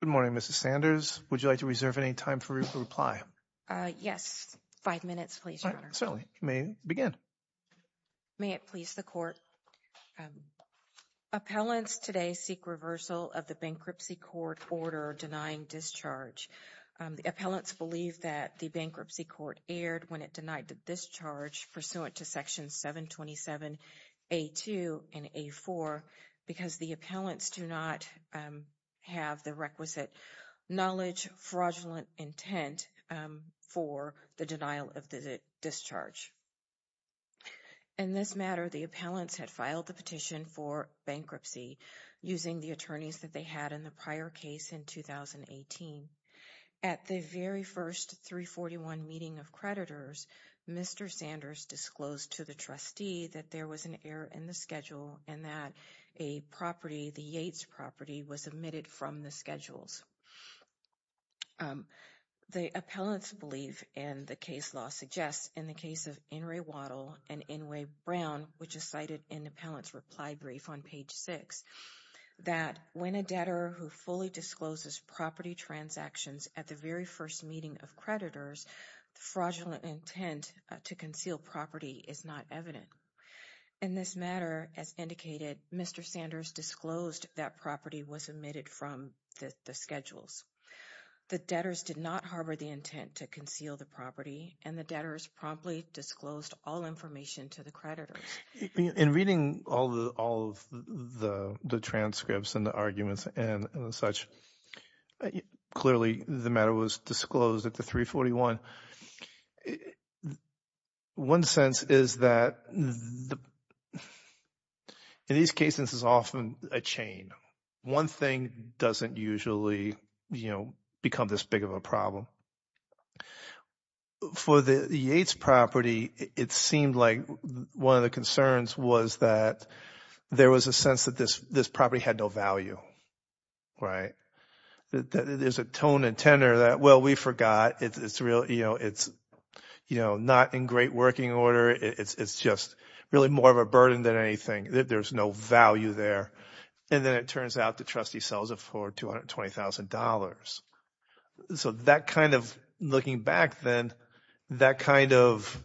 Good morning, Mrs. Sanders. Would you like to reserve any time for reply? Yes. Five minutes, please, Your Honor. Certainly. You may begin. May it please the Court. Appellants today seek reversal of the bankruptcy court order denying discharge. The appellants believe that the bankruptcy court erred when it denied the discharge pursuant to sections 727A2 and A4 because the appellants do not have the requisite knowledge, fraudulent intent for the denial of the discharge. In this matter, the appellants had filed the petition for bankruptcy using the attorneys that they had in the prior case in 2018. At the very first 341 meeting of creditors, Mr. Sanders disclosed to the trustee that there was an error in the schedule and that a property, the Yates property, was omitted from the schedules. The appellants believe, and the case law suggests, in the case of Inouye Waddell and Inouye Brown, which is cited in the appellant's reply brief on page 6, that when a debtor who fully discloses property transactions at the very first meeting of creditors, fraudulent intent to conceal property is not evident. In this matter, as indicated, Mr. Sanders disclosed that property was omitted from the schedules. The debtors did not harbor the intent to conceal the property, and the debtors promptly disclosed all information to the creditors. In reading all of the transcripts and the arguments and such, clearly the matter was disclosed at the 341. One sense is that in these cases it's often a chain. One thing doesn't usually become this big of a problem. For the Yates property, it seemed like one of the concerns was that there was a sense that this property had no value. There's a tone and tenor that, well, we forgot. It's not in great working order. It's just really more of a burden than anything. There's no value there. And then it turns out the trustee sells it for $220,000. So that kind of, looking back then, that kind of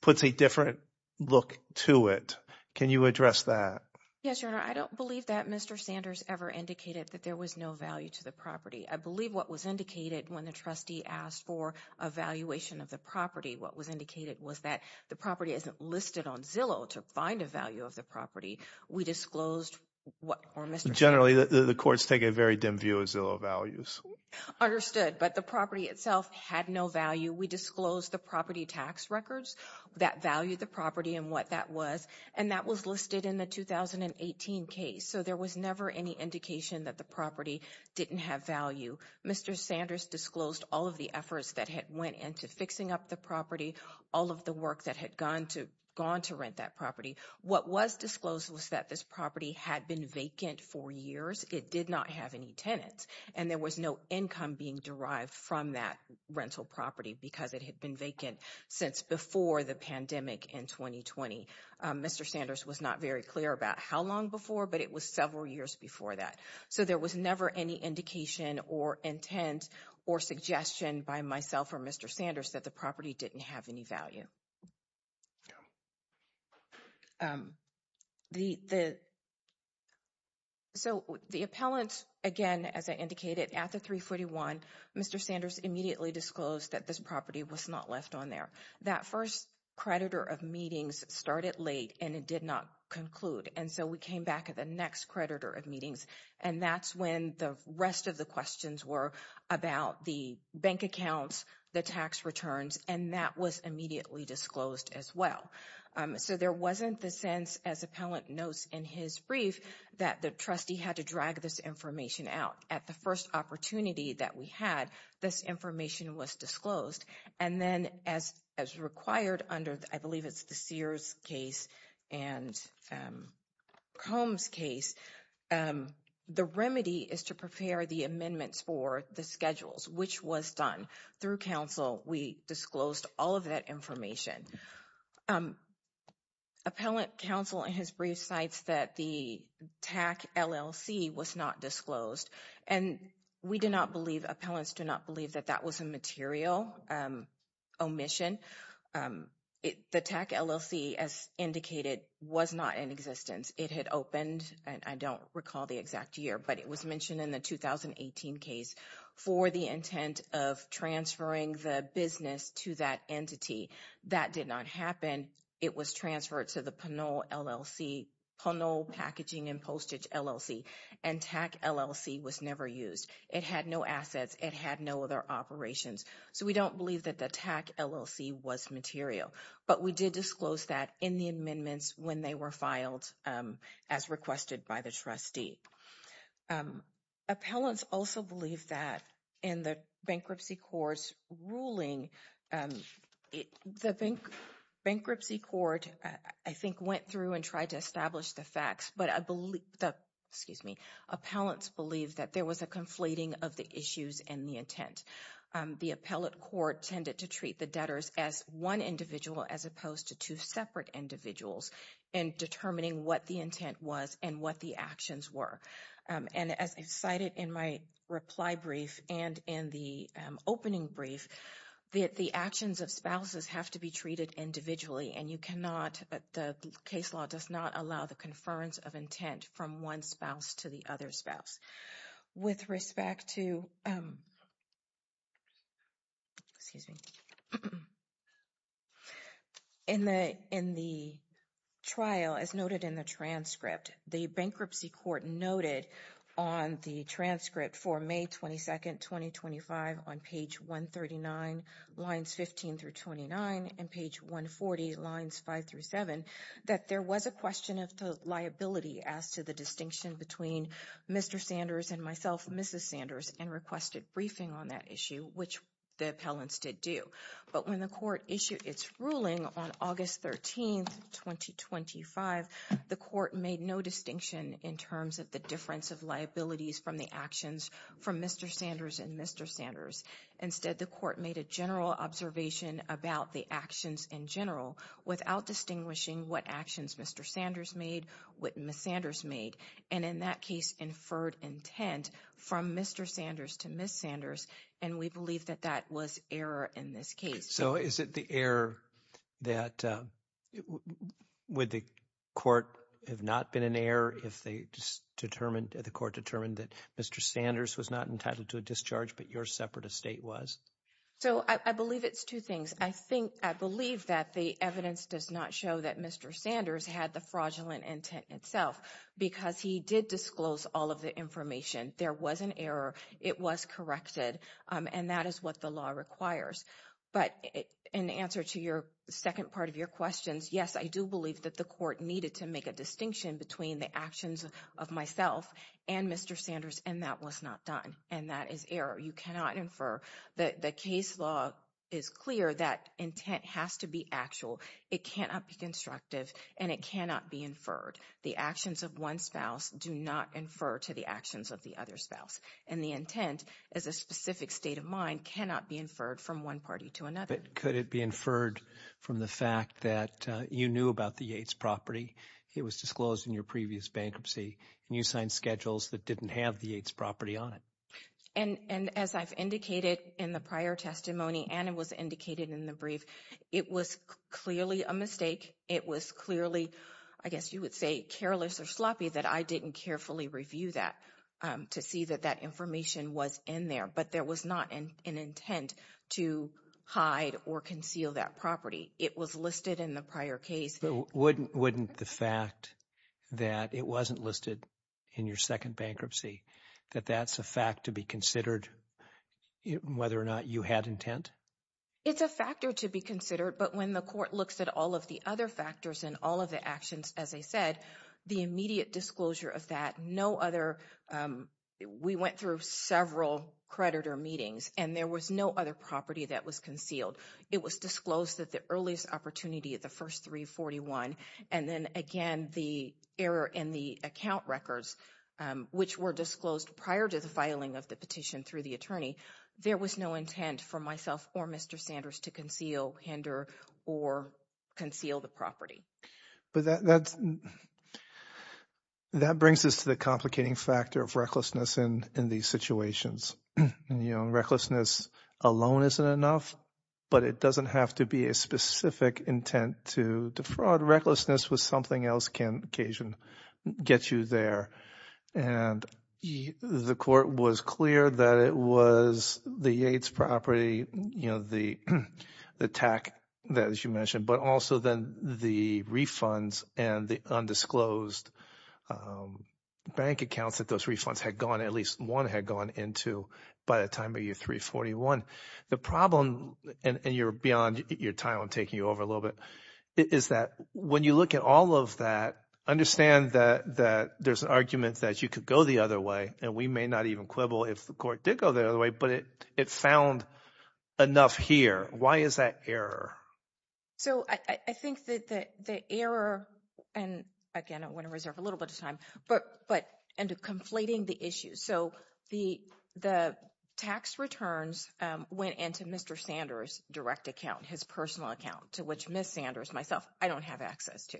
puts a different look to it. Can you address that? Yes, Your Honor. I don't believe that Mr. Sanders ever indicated that there was no value to the property. I believe what was indicated when the trustee asked for a valuation of the property, what was indicated was that the property isn't listed on Zillow to find a value of the property. We disclosed what Mr. Sanders said. Generally, the courts take a very dim view of Zillow values. Understood. But the property itself had no value. We disclosed the property tax records that valued the property and what that was, and that was listed in the 2018 case. So there was never any indication that the property didn't have value. Mr. Sanders disclosed all of the efforts that had went into fixing up the property, all of the work that had gone to rent that property. What was disclosed was that this property had been vacant for years. It did not have any tenants. And there was no income being derived from that rental property because it had been vacant since before the pandemic in 2020. Mr. Sanders was not very clear about how long before, but it was several years before that. So there was never any indication or intent or suggestion by myself or Mr. Sanders that the property didn't have any value. So the appellants, again, as I indicated, at the 341, Mr. Sanders immediately disclosed that this property was not left on there. That first creditor of meetings started late and it did not conclude. And so we came back at the next creditor of meetings, and that's when the rest of the questions were about the bank accounts, the tax returns, and that was immediately disclosed as well. So there wasn't the sense, as appellant notes in his brief, that the trustee had to drag this information out. At the first opportunity that we had, this information was disclosed. And then as required under, I believe it's the Sears case and Combs case, the remedy is to prepare the amendments for the schedules, which was done through counsel. We disclosed all of that information. Appellant counsel in his brief cites that the TAC LLC was not disclosed, and we do not believe, appellants do not believe that that was a material omission. The TAC LLC, as indicated, was not in existence. It had opened, and I don't recall the exact year, but it was mentioned in the 2018 case for the intent of transferring the business to that entity. That did not happen. It was transferred to the Pinole Packaging and Postage LLC, and TAC LLC was never used. It had no assets. It had no other operations. So we don't believe that the TAC LLC was material, but we did disclose that in the amendments when they were filed as requested by the trustee. Appellants also believe that in the bankruptcy court's ruling, the bankruptcy court, I think, went through and tried to establish the facts, but I believe that, excuse me, appellants believe that there was a conflating of the issues and the intent. The appellate court tended to treat the debtors as one individual as opposed to two separate individuals in determining what the intent was and what the actions were. And as I cited in my reply brief and in the opening brief, the actions of spouses have to be treated individually, and you cannot, the case law does not allow the from one spouse to the other spouse. With respect to, excuse me, in the trial, as noted in the transcript, the bankruptcy court noted on the transcript for May 22nd, 2025, on page 139, lines 15 through Mr. Sanders and myself, Mrs. Sanders, and requested briefing on that issue, which the appellants did do. But when the court issued its ruling on August 13th, 2025, the court made no distinction in terms of the difference of liabilities from the actions from Mr. Sanders and Mr. Sanders. Instead, the court made a general observation about the actions in general without distinguishing what actions Mr. Sanders made, what Mrs. Sanders made. And in that case, inferred intent from Mr. Sanders to Mrs. Sanders, and we believe that that was error in this case. So is it the error that, would the court have not been an error if they determined, the court determined that Mr. Sanders was not entitled to a discharge but your separate estate was? So I believe it's two things. I think, I believe that the evidence does not show that Mr. Sanders had the fraudulent intent itself because he did disclose all of the information. There was an error. It was corrected. And that is what the law requires. But in answer to your second part of your questions, yes, I do believe that the court needed to make a distinction between the actions of myself and Mr. Sanders, and that was not done. And that is error. You cannot infer. The case law is clear that intent has to be actual. It cannot be constructive, and it cannot be inferred. The actions of one spouse do not infer to the actions of the other spouse. And the intent, as a specific state of mind, cannot be inferred from one party to another. But could it be inferred from the fact that you knew about the Yates property? It was disclosed in your previous bankruptcy, and you signed schedules that didn't have the Yates property on it. And as I've indicated in the prior testimony, and it was indicated in the brief, it was clearly a mistake. It was clearly, I guess you would say, careless or sloppy that I didn't carefully review that to see that that information was in there. But there was not an intent to hide or conceal that property. It was listed in the prior case. Wouldn't the fact that it wasn't listed in your second bankruptcy, that that's a fact to be considered, whether or not you had intent? It's a factor to be considered. But when the court looks at all of the other factors and all of the actions, as I said, the immediate disclosure of that, no other, we went through several creditor meetings, and there was no other property that was concealed. It was disclosed at the earliest opportunity at the first 341. And then, again, the error in the account records, which were disclosed prior to the filing of the petition through the attorney, there was no intent for myself or Mr. Sanders to conceal, hinder, or conceal the property. But that brings us to the complicating factor of recklessness in these situations. Recklessness alone isn't enough, but it doesn't have to be a specific intent to defraud. Recklessness with something else can occasionally get you there. And the court was clear that it was the Yates property, the TAC that you mentioned, but also then the refunds and the undisclosed bank accounts that those refunds had gone, at least one had gone into by the time of year 341. The problem, and you're beyond your time, I'm taking you over a little bit, is that when you look at all of that, understand that there's an argument that you could go the other way, and we may not even quibble if the court did go the other way, but it found enough here. Why is that error? So I think that the error, and, again, I want to reserve a little bit of time, but into conflating the issues. So the tax returns went into Mr. Sanders' direct account, his personal account, to which Ms. Sanders, myself, I don't have access to.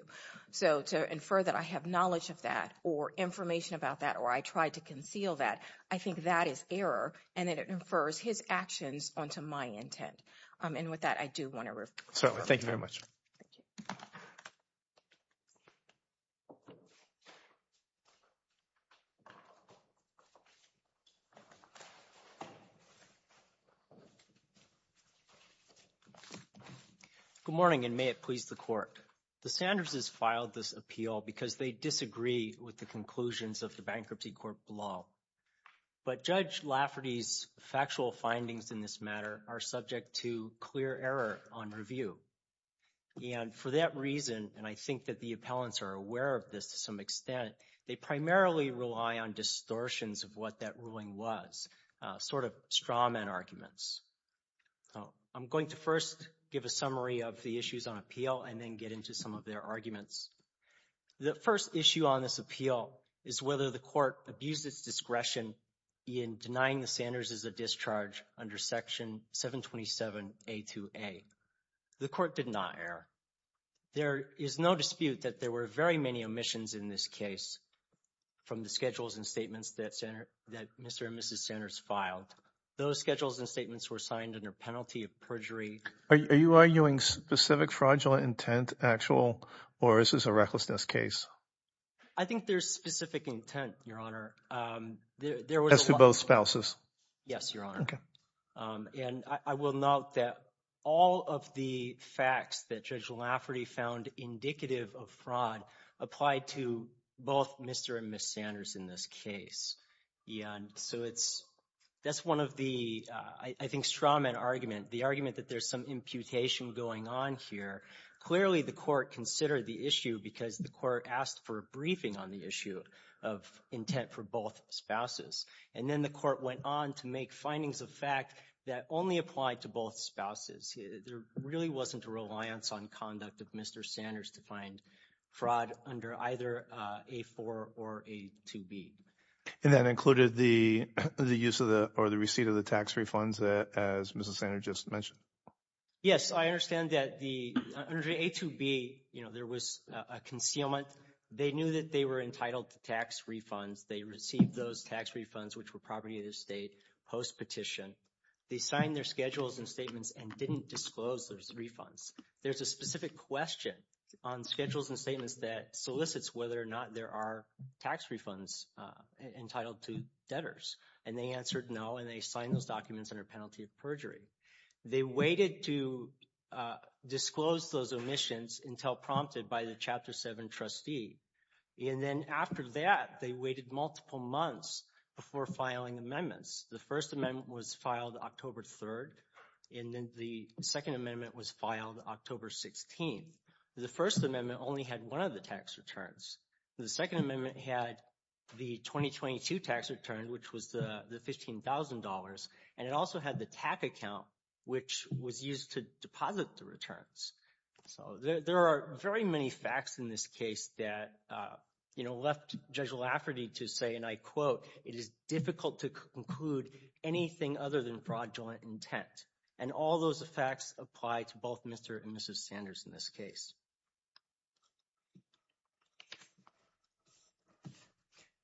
So to infer that I have knowledge of that or information about that or I tried to conceal that, I think that is error and that it infers his actions onto my intent. And with that, I do want to refer you. Thank you very much. Good morning, and may it please the Court. The Sanders' filed this appeal because they disagree with the conclusions of the Bankruptcy Court law. But Judge Lafferty's factual findings in this matter are subject to clear error on review. And for that reason, and I think that the appellants are aware of this to some extent, they primarily rely on distortions of what that ruling was, sort of straw man arguments. I'm going to first give a summary of the issues on appeal and then get into some of their arguments. The first issue on this appeal is whether the court abused its discretion in denying the Sanders' a discharge under section 727A2A. The court did not err. There is no dispute that there were very many omissions in this case from the schedules and statements that Mr. and Mrs. Sanders filed. Those schedules and statements were signed under penalty of perjury. Are you arguing specific fraudulent intent, actual, or is this a recklessness case? I think there's specific intent, Your Honor. As to both spouses? Yes, Your Honor. Okay. And I will note that all of the facts that Judge Lafferty found indicative of fraud applied to both Mr. and Mrs. Sanders in this case. So that's one of the, I think, straw man argument, the argument that there's some imputation going on here. Clearly the court considered the issue because the court asked for a briefing on the issue of intent for both spouses. And then the court went on to make findings of fact that only applied to both spouses. There really wasn't a reliance on conduct of Mr. Sanders to find fraud under either A4 or A2B. And that included the use of the, or the receipt of the tax refunds, as Mrs. Sanders just mentioned? Yes. I understand that under A2B, you know, there was a concealment. They knew that they were entitled to tax refunds. They received those tax refunds, which were property of the state, post petition. They signed their schedules and statements and didn't disclose those refunds. There's a specific question on schedules and statements that solicits whether or not there are tax refunds entitled to debtors. And they answered no, and they signed those documents under penalty of They waited to disclose those omissions until prompted by the Chapter 7 trustee. And then after that, they waited multiple months before filing amendments. The First Amendment was filed October 3rd, and then the Second Amendment was filed October 16th. The First Amendment only had one of the tax returns. The Second Amendment had the 2022 tax return, which was the $15,000. And it also had the TAC account, which was used to deposit the returns. There are very many facts in this case that, you know, left Judge Lafferty to say, and I quote, it is difficult to conclude anything other than fraudulent intent. And all those facts apply to both Mr. and Mrs. Sanders in this case.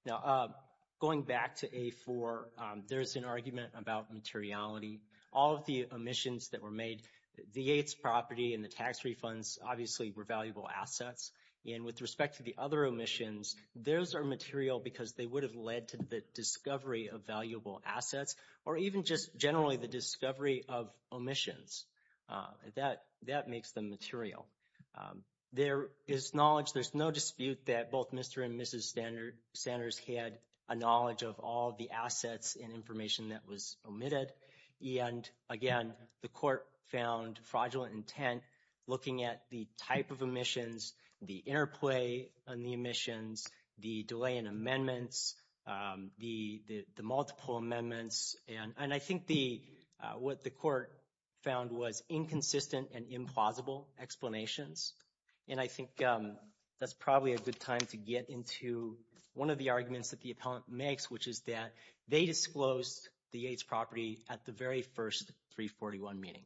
Now, going back to A4, there's an argument about materiality. All of the omissions that were made, the Yates property and the tax refunds obviously were valuable assets. And with respect to the other omissions, those are material because they would have led to the discovery of valuable assets or even just generally the discovery of omissions. That makes them material. There is knowledge, there's no dispute that both Mr. and Mrs. Sanders had a valuable asset. But in the end, again, the court found fraudulent intent, looking at the type of omissions, the interplay on the omissions, the delay in amendments, the multiple amendments. And I think what the court found was inconsistent and implausible explanations. And I think that's probably a good time to get into one of the arguments that the appellant makes, which is that they disclosed the Yates property at the very first 341 meeting.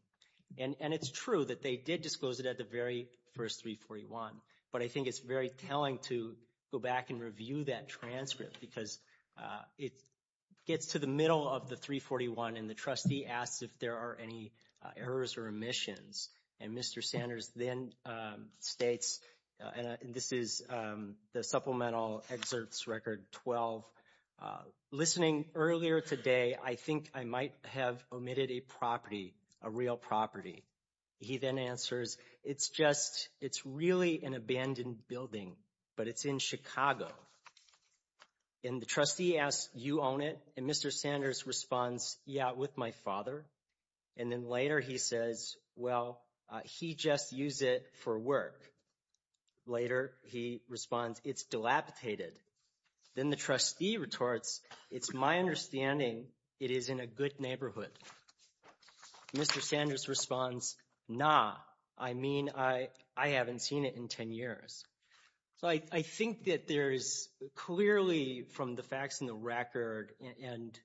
And it's true that they did disclose it at the very first 341, but I think it's very telling to go back and review that transcript because it gets to the middle of the 341 and the trustee asks if there are any errors or omissions. And Mr. Sanders then states, and this is the supplemental excerpts record 12, listening earlier today, I think I might have omitted a property, a real property. He then answers, it's just, it's really an abandoned building, but it's in And the trustee asks, you own it? And Mr. Sanders responds, yeah, with my father. And then later he says, well, he just used it for work. Later he responds, it's dilapidated. Then the trustee retorts, it's my understanding it is in a good neighborhood. Mr. Sanders responds, nah, I mean, I haven't seen it in 10 years. So I think that there is clearly from the facts in the record and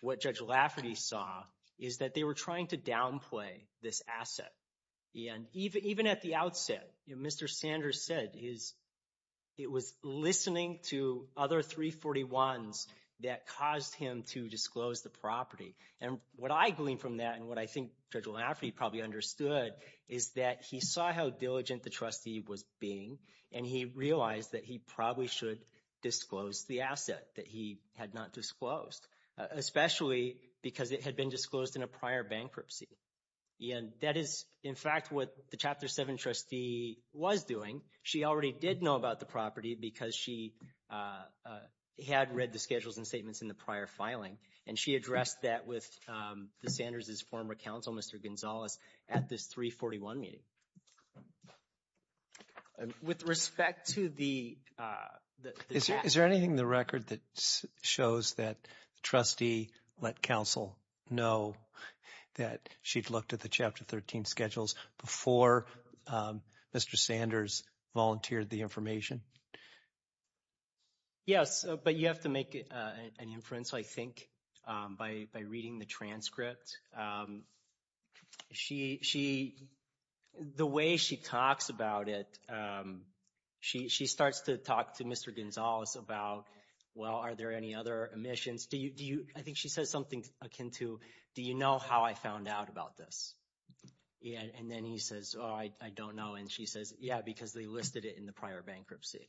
what Judge Lafferty saw is that they were trying to downplay this asset. And even at the outset, Mr. Sanders said it was listening to other 341s that caused him to disclose the property. And what I gleaned from that and what I think Judge Lafferty probably understood is that he saw how diligent the trustee was being and he realized that he probably should disclose the asset that he had not disclosed, especially because it had been disclosed in a prior bankruptcy. And that is, in fact, what the Chapter 7 trustee was doing. She already did know about the property because she had read the schedules and statements in the prior filing. And she addressed that with the Sanders' former counsel, Mr. Gonzalez, at this 341 meeting. With respect to the... Is there anything in the record that shows that the trustee let counsel know that she'd looked at the Chapter 13 schedules before Mr. Sanders volunteered the information? Yes, but you have to make an inference, I think, by reading the transcript. The way she talks about it, she starts to talk to Mr. Gonzalez about, well, are there any other omissions? I think she says something akin to, do you know how I found out about this? And then he says, oh, I don't know. And she says, yeah, because they listed it in the prior bankruptcy.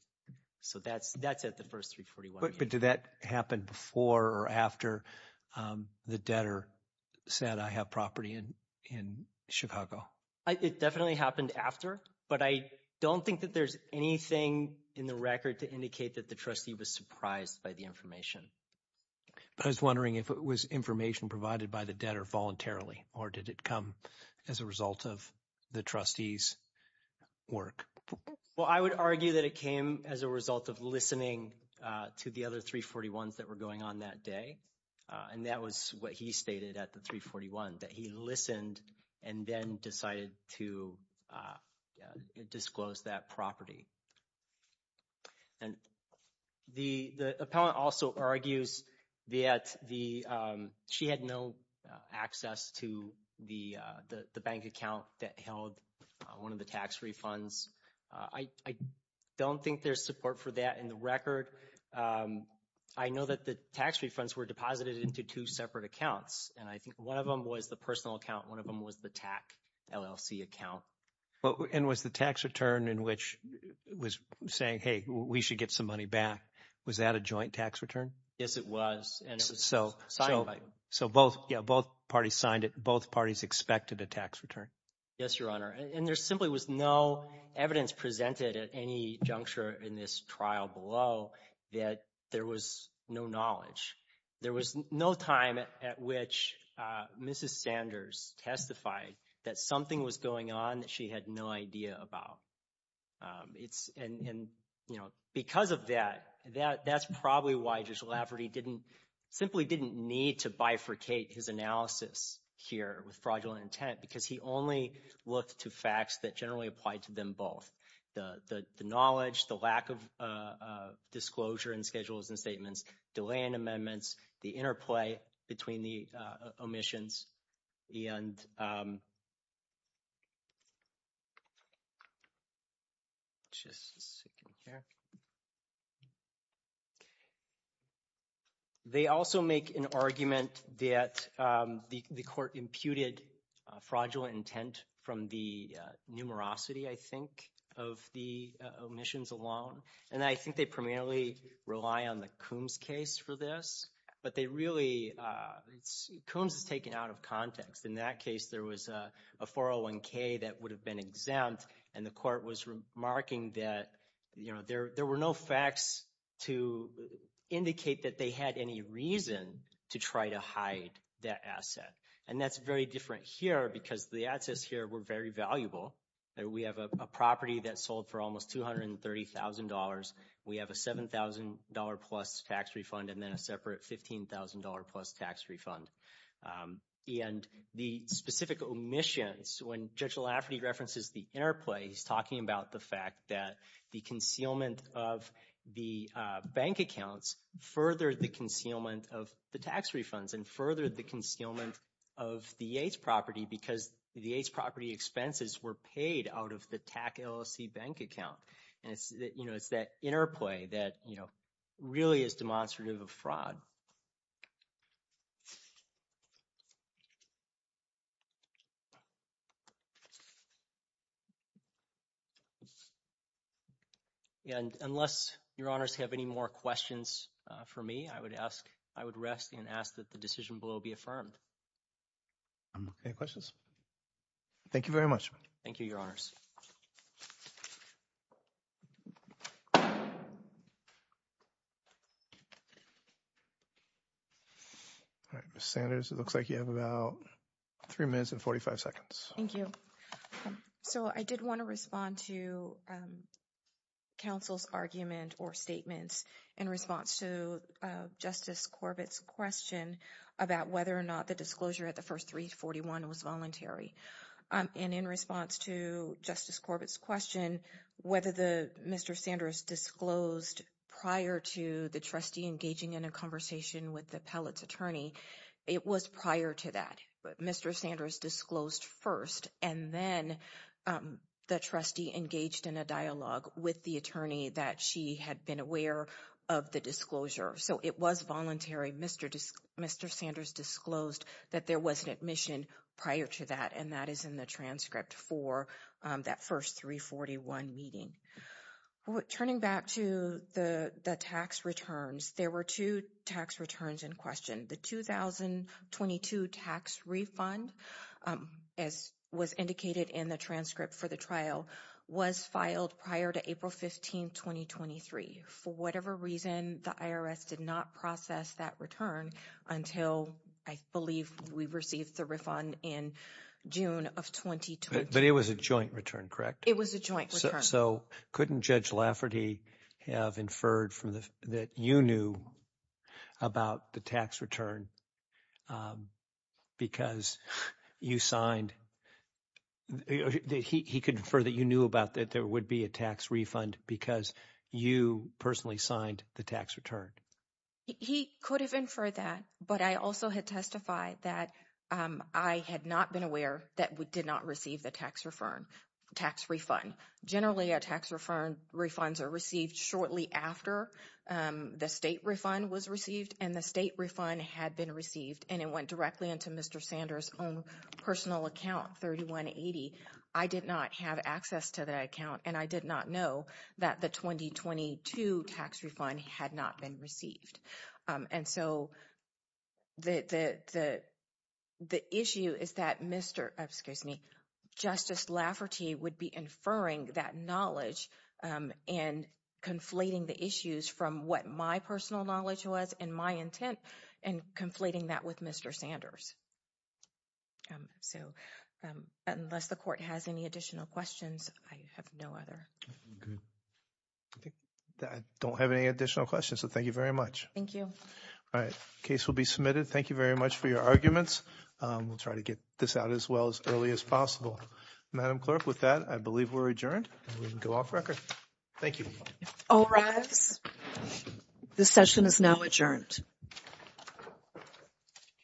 So that's at the first 341 meeting. But did that happen before or after the debtor said, I have property in Chicago? It definitely happened after, but I don't think that there's anything in the record to indicate that the trustee was surprised by the information. I was wondering if it was information provided by the debtor voluntarily, or did it come as a result of the trustee's work? Well, I would argue that it came as a result of listening to the other 341s that were going on that day. And that was what he stated at the 341, that he listened and then decided to disclose that property. And the appellant also argues that she had no access to the bank account that held one of the tax refunds. I don't think there's support for that in the record. I know that the tax refunds were deposited into two separate accounts, and I think one of them was the personal account, one of them was the TAC LLC account. And was the tax return in which it was saying, hey, we should get some money back, was that a joint tax return? Yes, it was, and it was signed by them. So both parties signed it, both parties expected a tax return. Yes, Your Honor. And there simply was no evidence presented at any juncture in this trial below that there was no knowledge. There was no time at which Mrs. Sanders testified that something was going on that she had no idea about. And, you know, because of that, that's probably why Judge Lafferty didn't simply didn't need to bifurcate his analysis here with fraudulent intent because he only looked to facts that generally applied to them both. The knowledge, the lack of disclosure in schedules and statements, delay in amendments, the interplay between the omissions, and just a second here. They also make an argument that the court imputed fraudulent intent from the numerosity, I think, of the omissions alone. And I think they primarily rely on the Coombs case for this. But they really – Coombs is taken out of context. In that case, there was a 401K that would have been exempt, and the court was remarking that, you know, there were no facts to indicate that they had any reason to try to hide that asset. And that's very different here because the assets here were very valuable. We have a property that sold for almost $230,000. We have a $7,000-plus tax refund and then a separate $15,000-plus tax refund. And the specific omissions, when Judge Lafferty references the interplay, he's talking about the fact that the concealment of the bank accounts furthered the concealment of the tax refunds and furthered the concealment of the Yates property because the Yates property expenses were paid out of the TAC LLC bank account. And, you know, it's that interplay that, you know, really is demonstrative of fraud. And unless Your Honors have any more questions for me, I would ask – I would rest and ask that the decision below be affirmed. Any questions? Thank you very much. Thank you, Your Honors. All right, Ms. Sanders, it looks like you have about 3 minutes and 45 seconds. Thank you. So I did want to respond to counsel's argument or statements in response to Justice Corbett's question about whether or not the disclosure at the first 341 was voluntary. And in response to Justice Corbett's question, whether Mr. Sanders disclosed prior to the trustee engaging in a conversation with the appellate's attorney, it was prior to that. Mr. Sanders disclosed first and then the trustee engaged in a dialogue with the attorney that she had been aware of the disclosure. So it was voluntary. Mr. Sanders disclosed that there was an admission prior to that and that is in the transcript for that first 341 meeting. Turning back to the tax returns, there were two tax returns in question. The 2022 tax refund, as was indicated in the transcript for the trial, was filed prior to April 15, 2023. For whatever reason, the IRS did not process that return until, I believe, we received the refund in June of 2022. But it was a joint return, correct? It was a joint return. So couldn't Judge Lafferty have inferred that you knew about the tax return because you signed? He could infer that you knew about that there would be a tax refund because you personally signed the tax return. He could have inferred that, but I also had testified that I had not been aware that we did not receive the tax refund. Generally, our tax refunds are received shortly after the state refund was received and the state refund had been received and it went directly into Mr. Sanders' own personal account, 3180. I did not have access to that account and I did not know that the 2022 tax refund had not been received. And so the issue is that Justice Lafferty would be inferring that knowledge and conflating the issues from what my personal knowledge was and my intent and conflating that with Mr. Sanders. So unless the court has any additional questions, I have no other. I don't have any additional questions, so thank you very much. Thank you. All right. Case will be submitted. Thank you very much for your arguments. We'll try to get this out as well as early as possible. Madam Clerk, with that, I believe we're adjourned. We can go off record. Thank you. All rise. This session is now adjourned.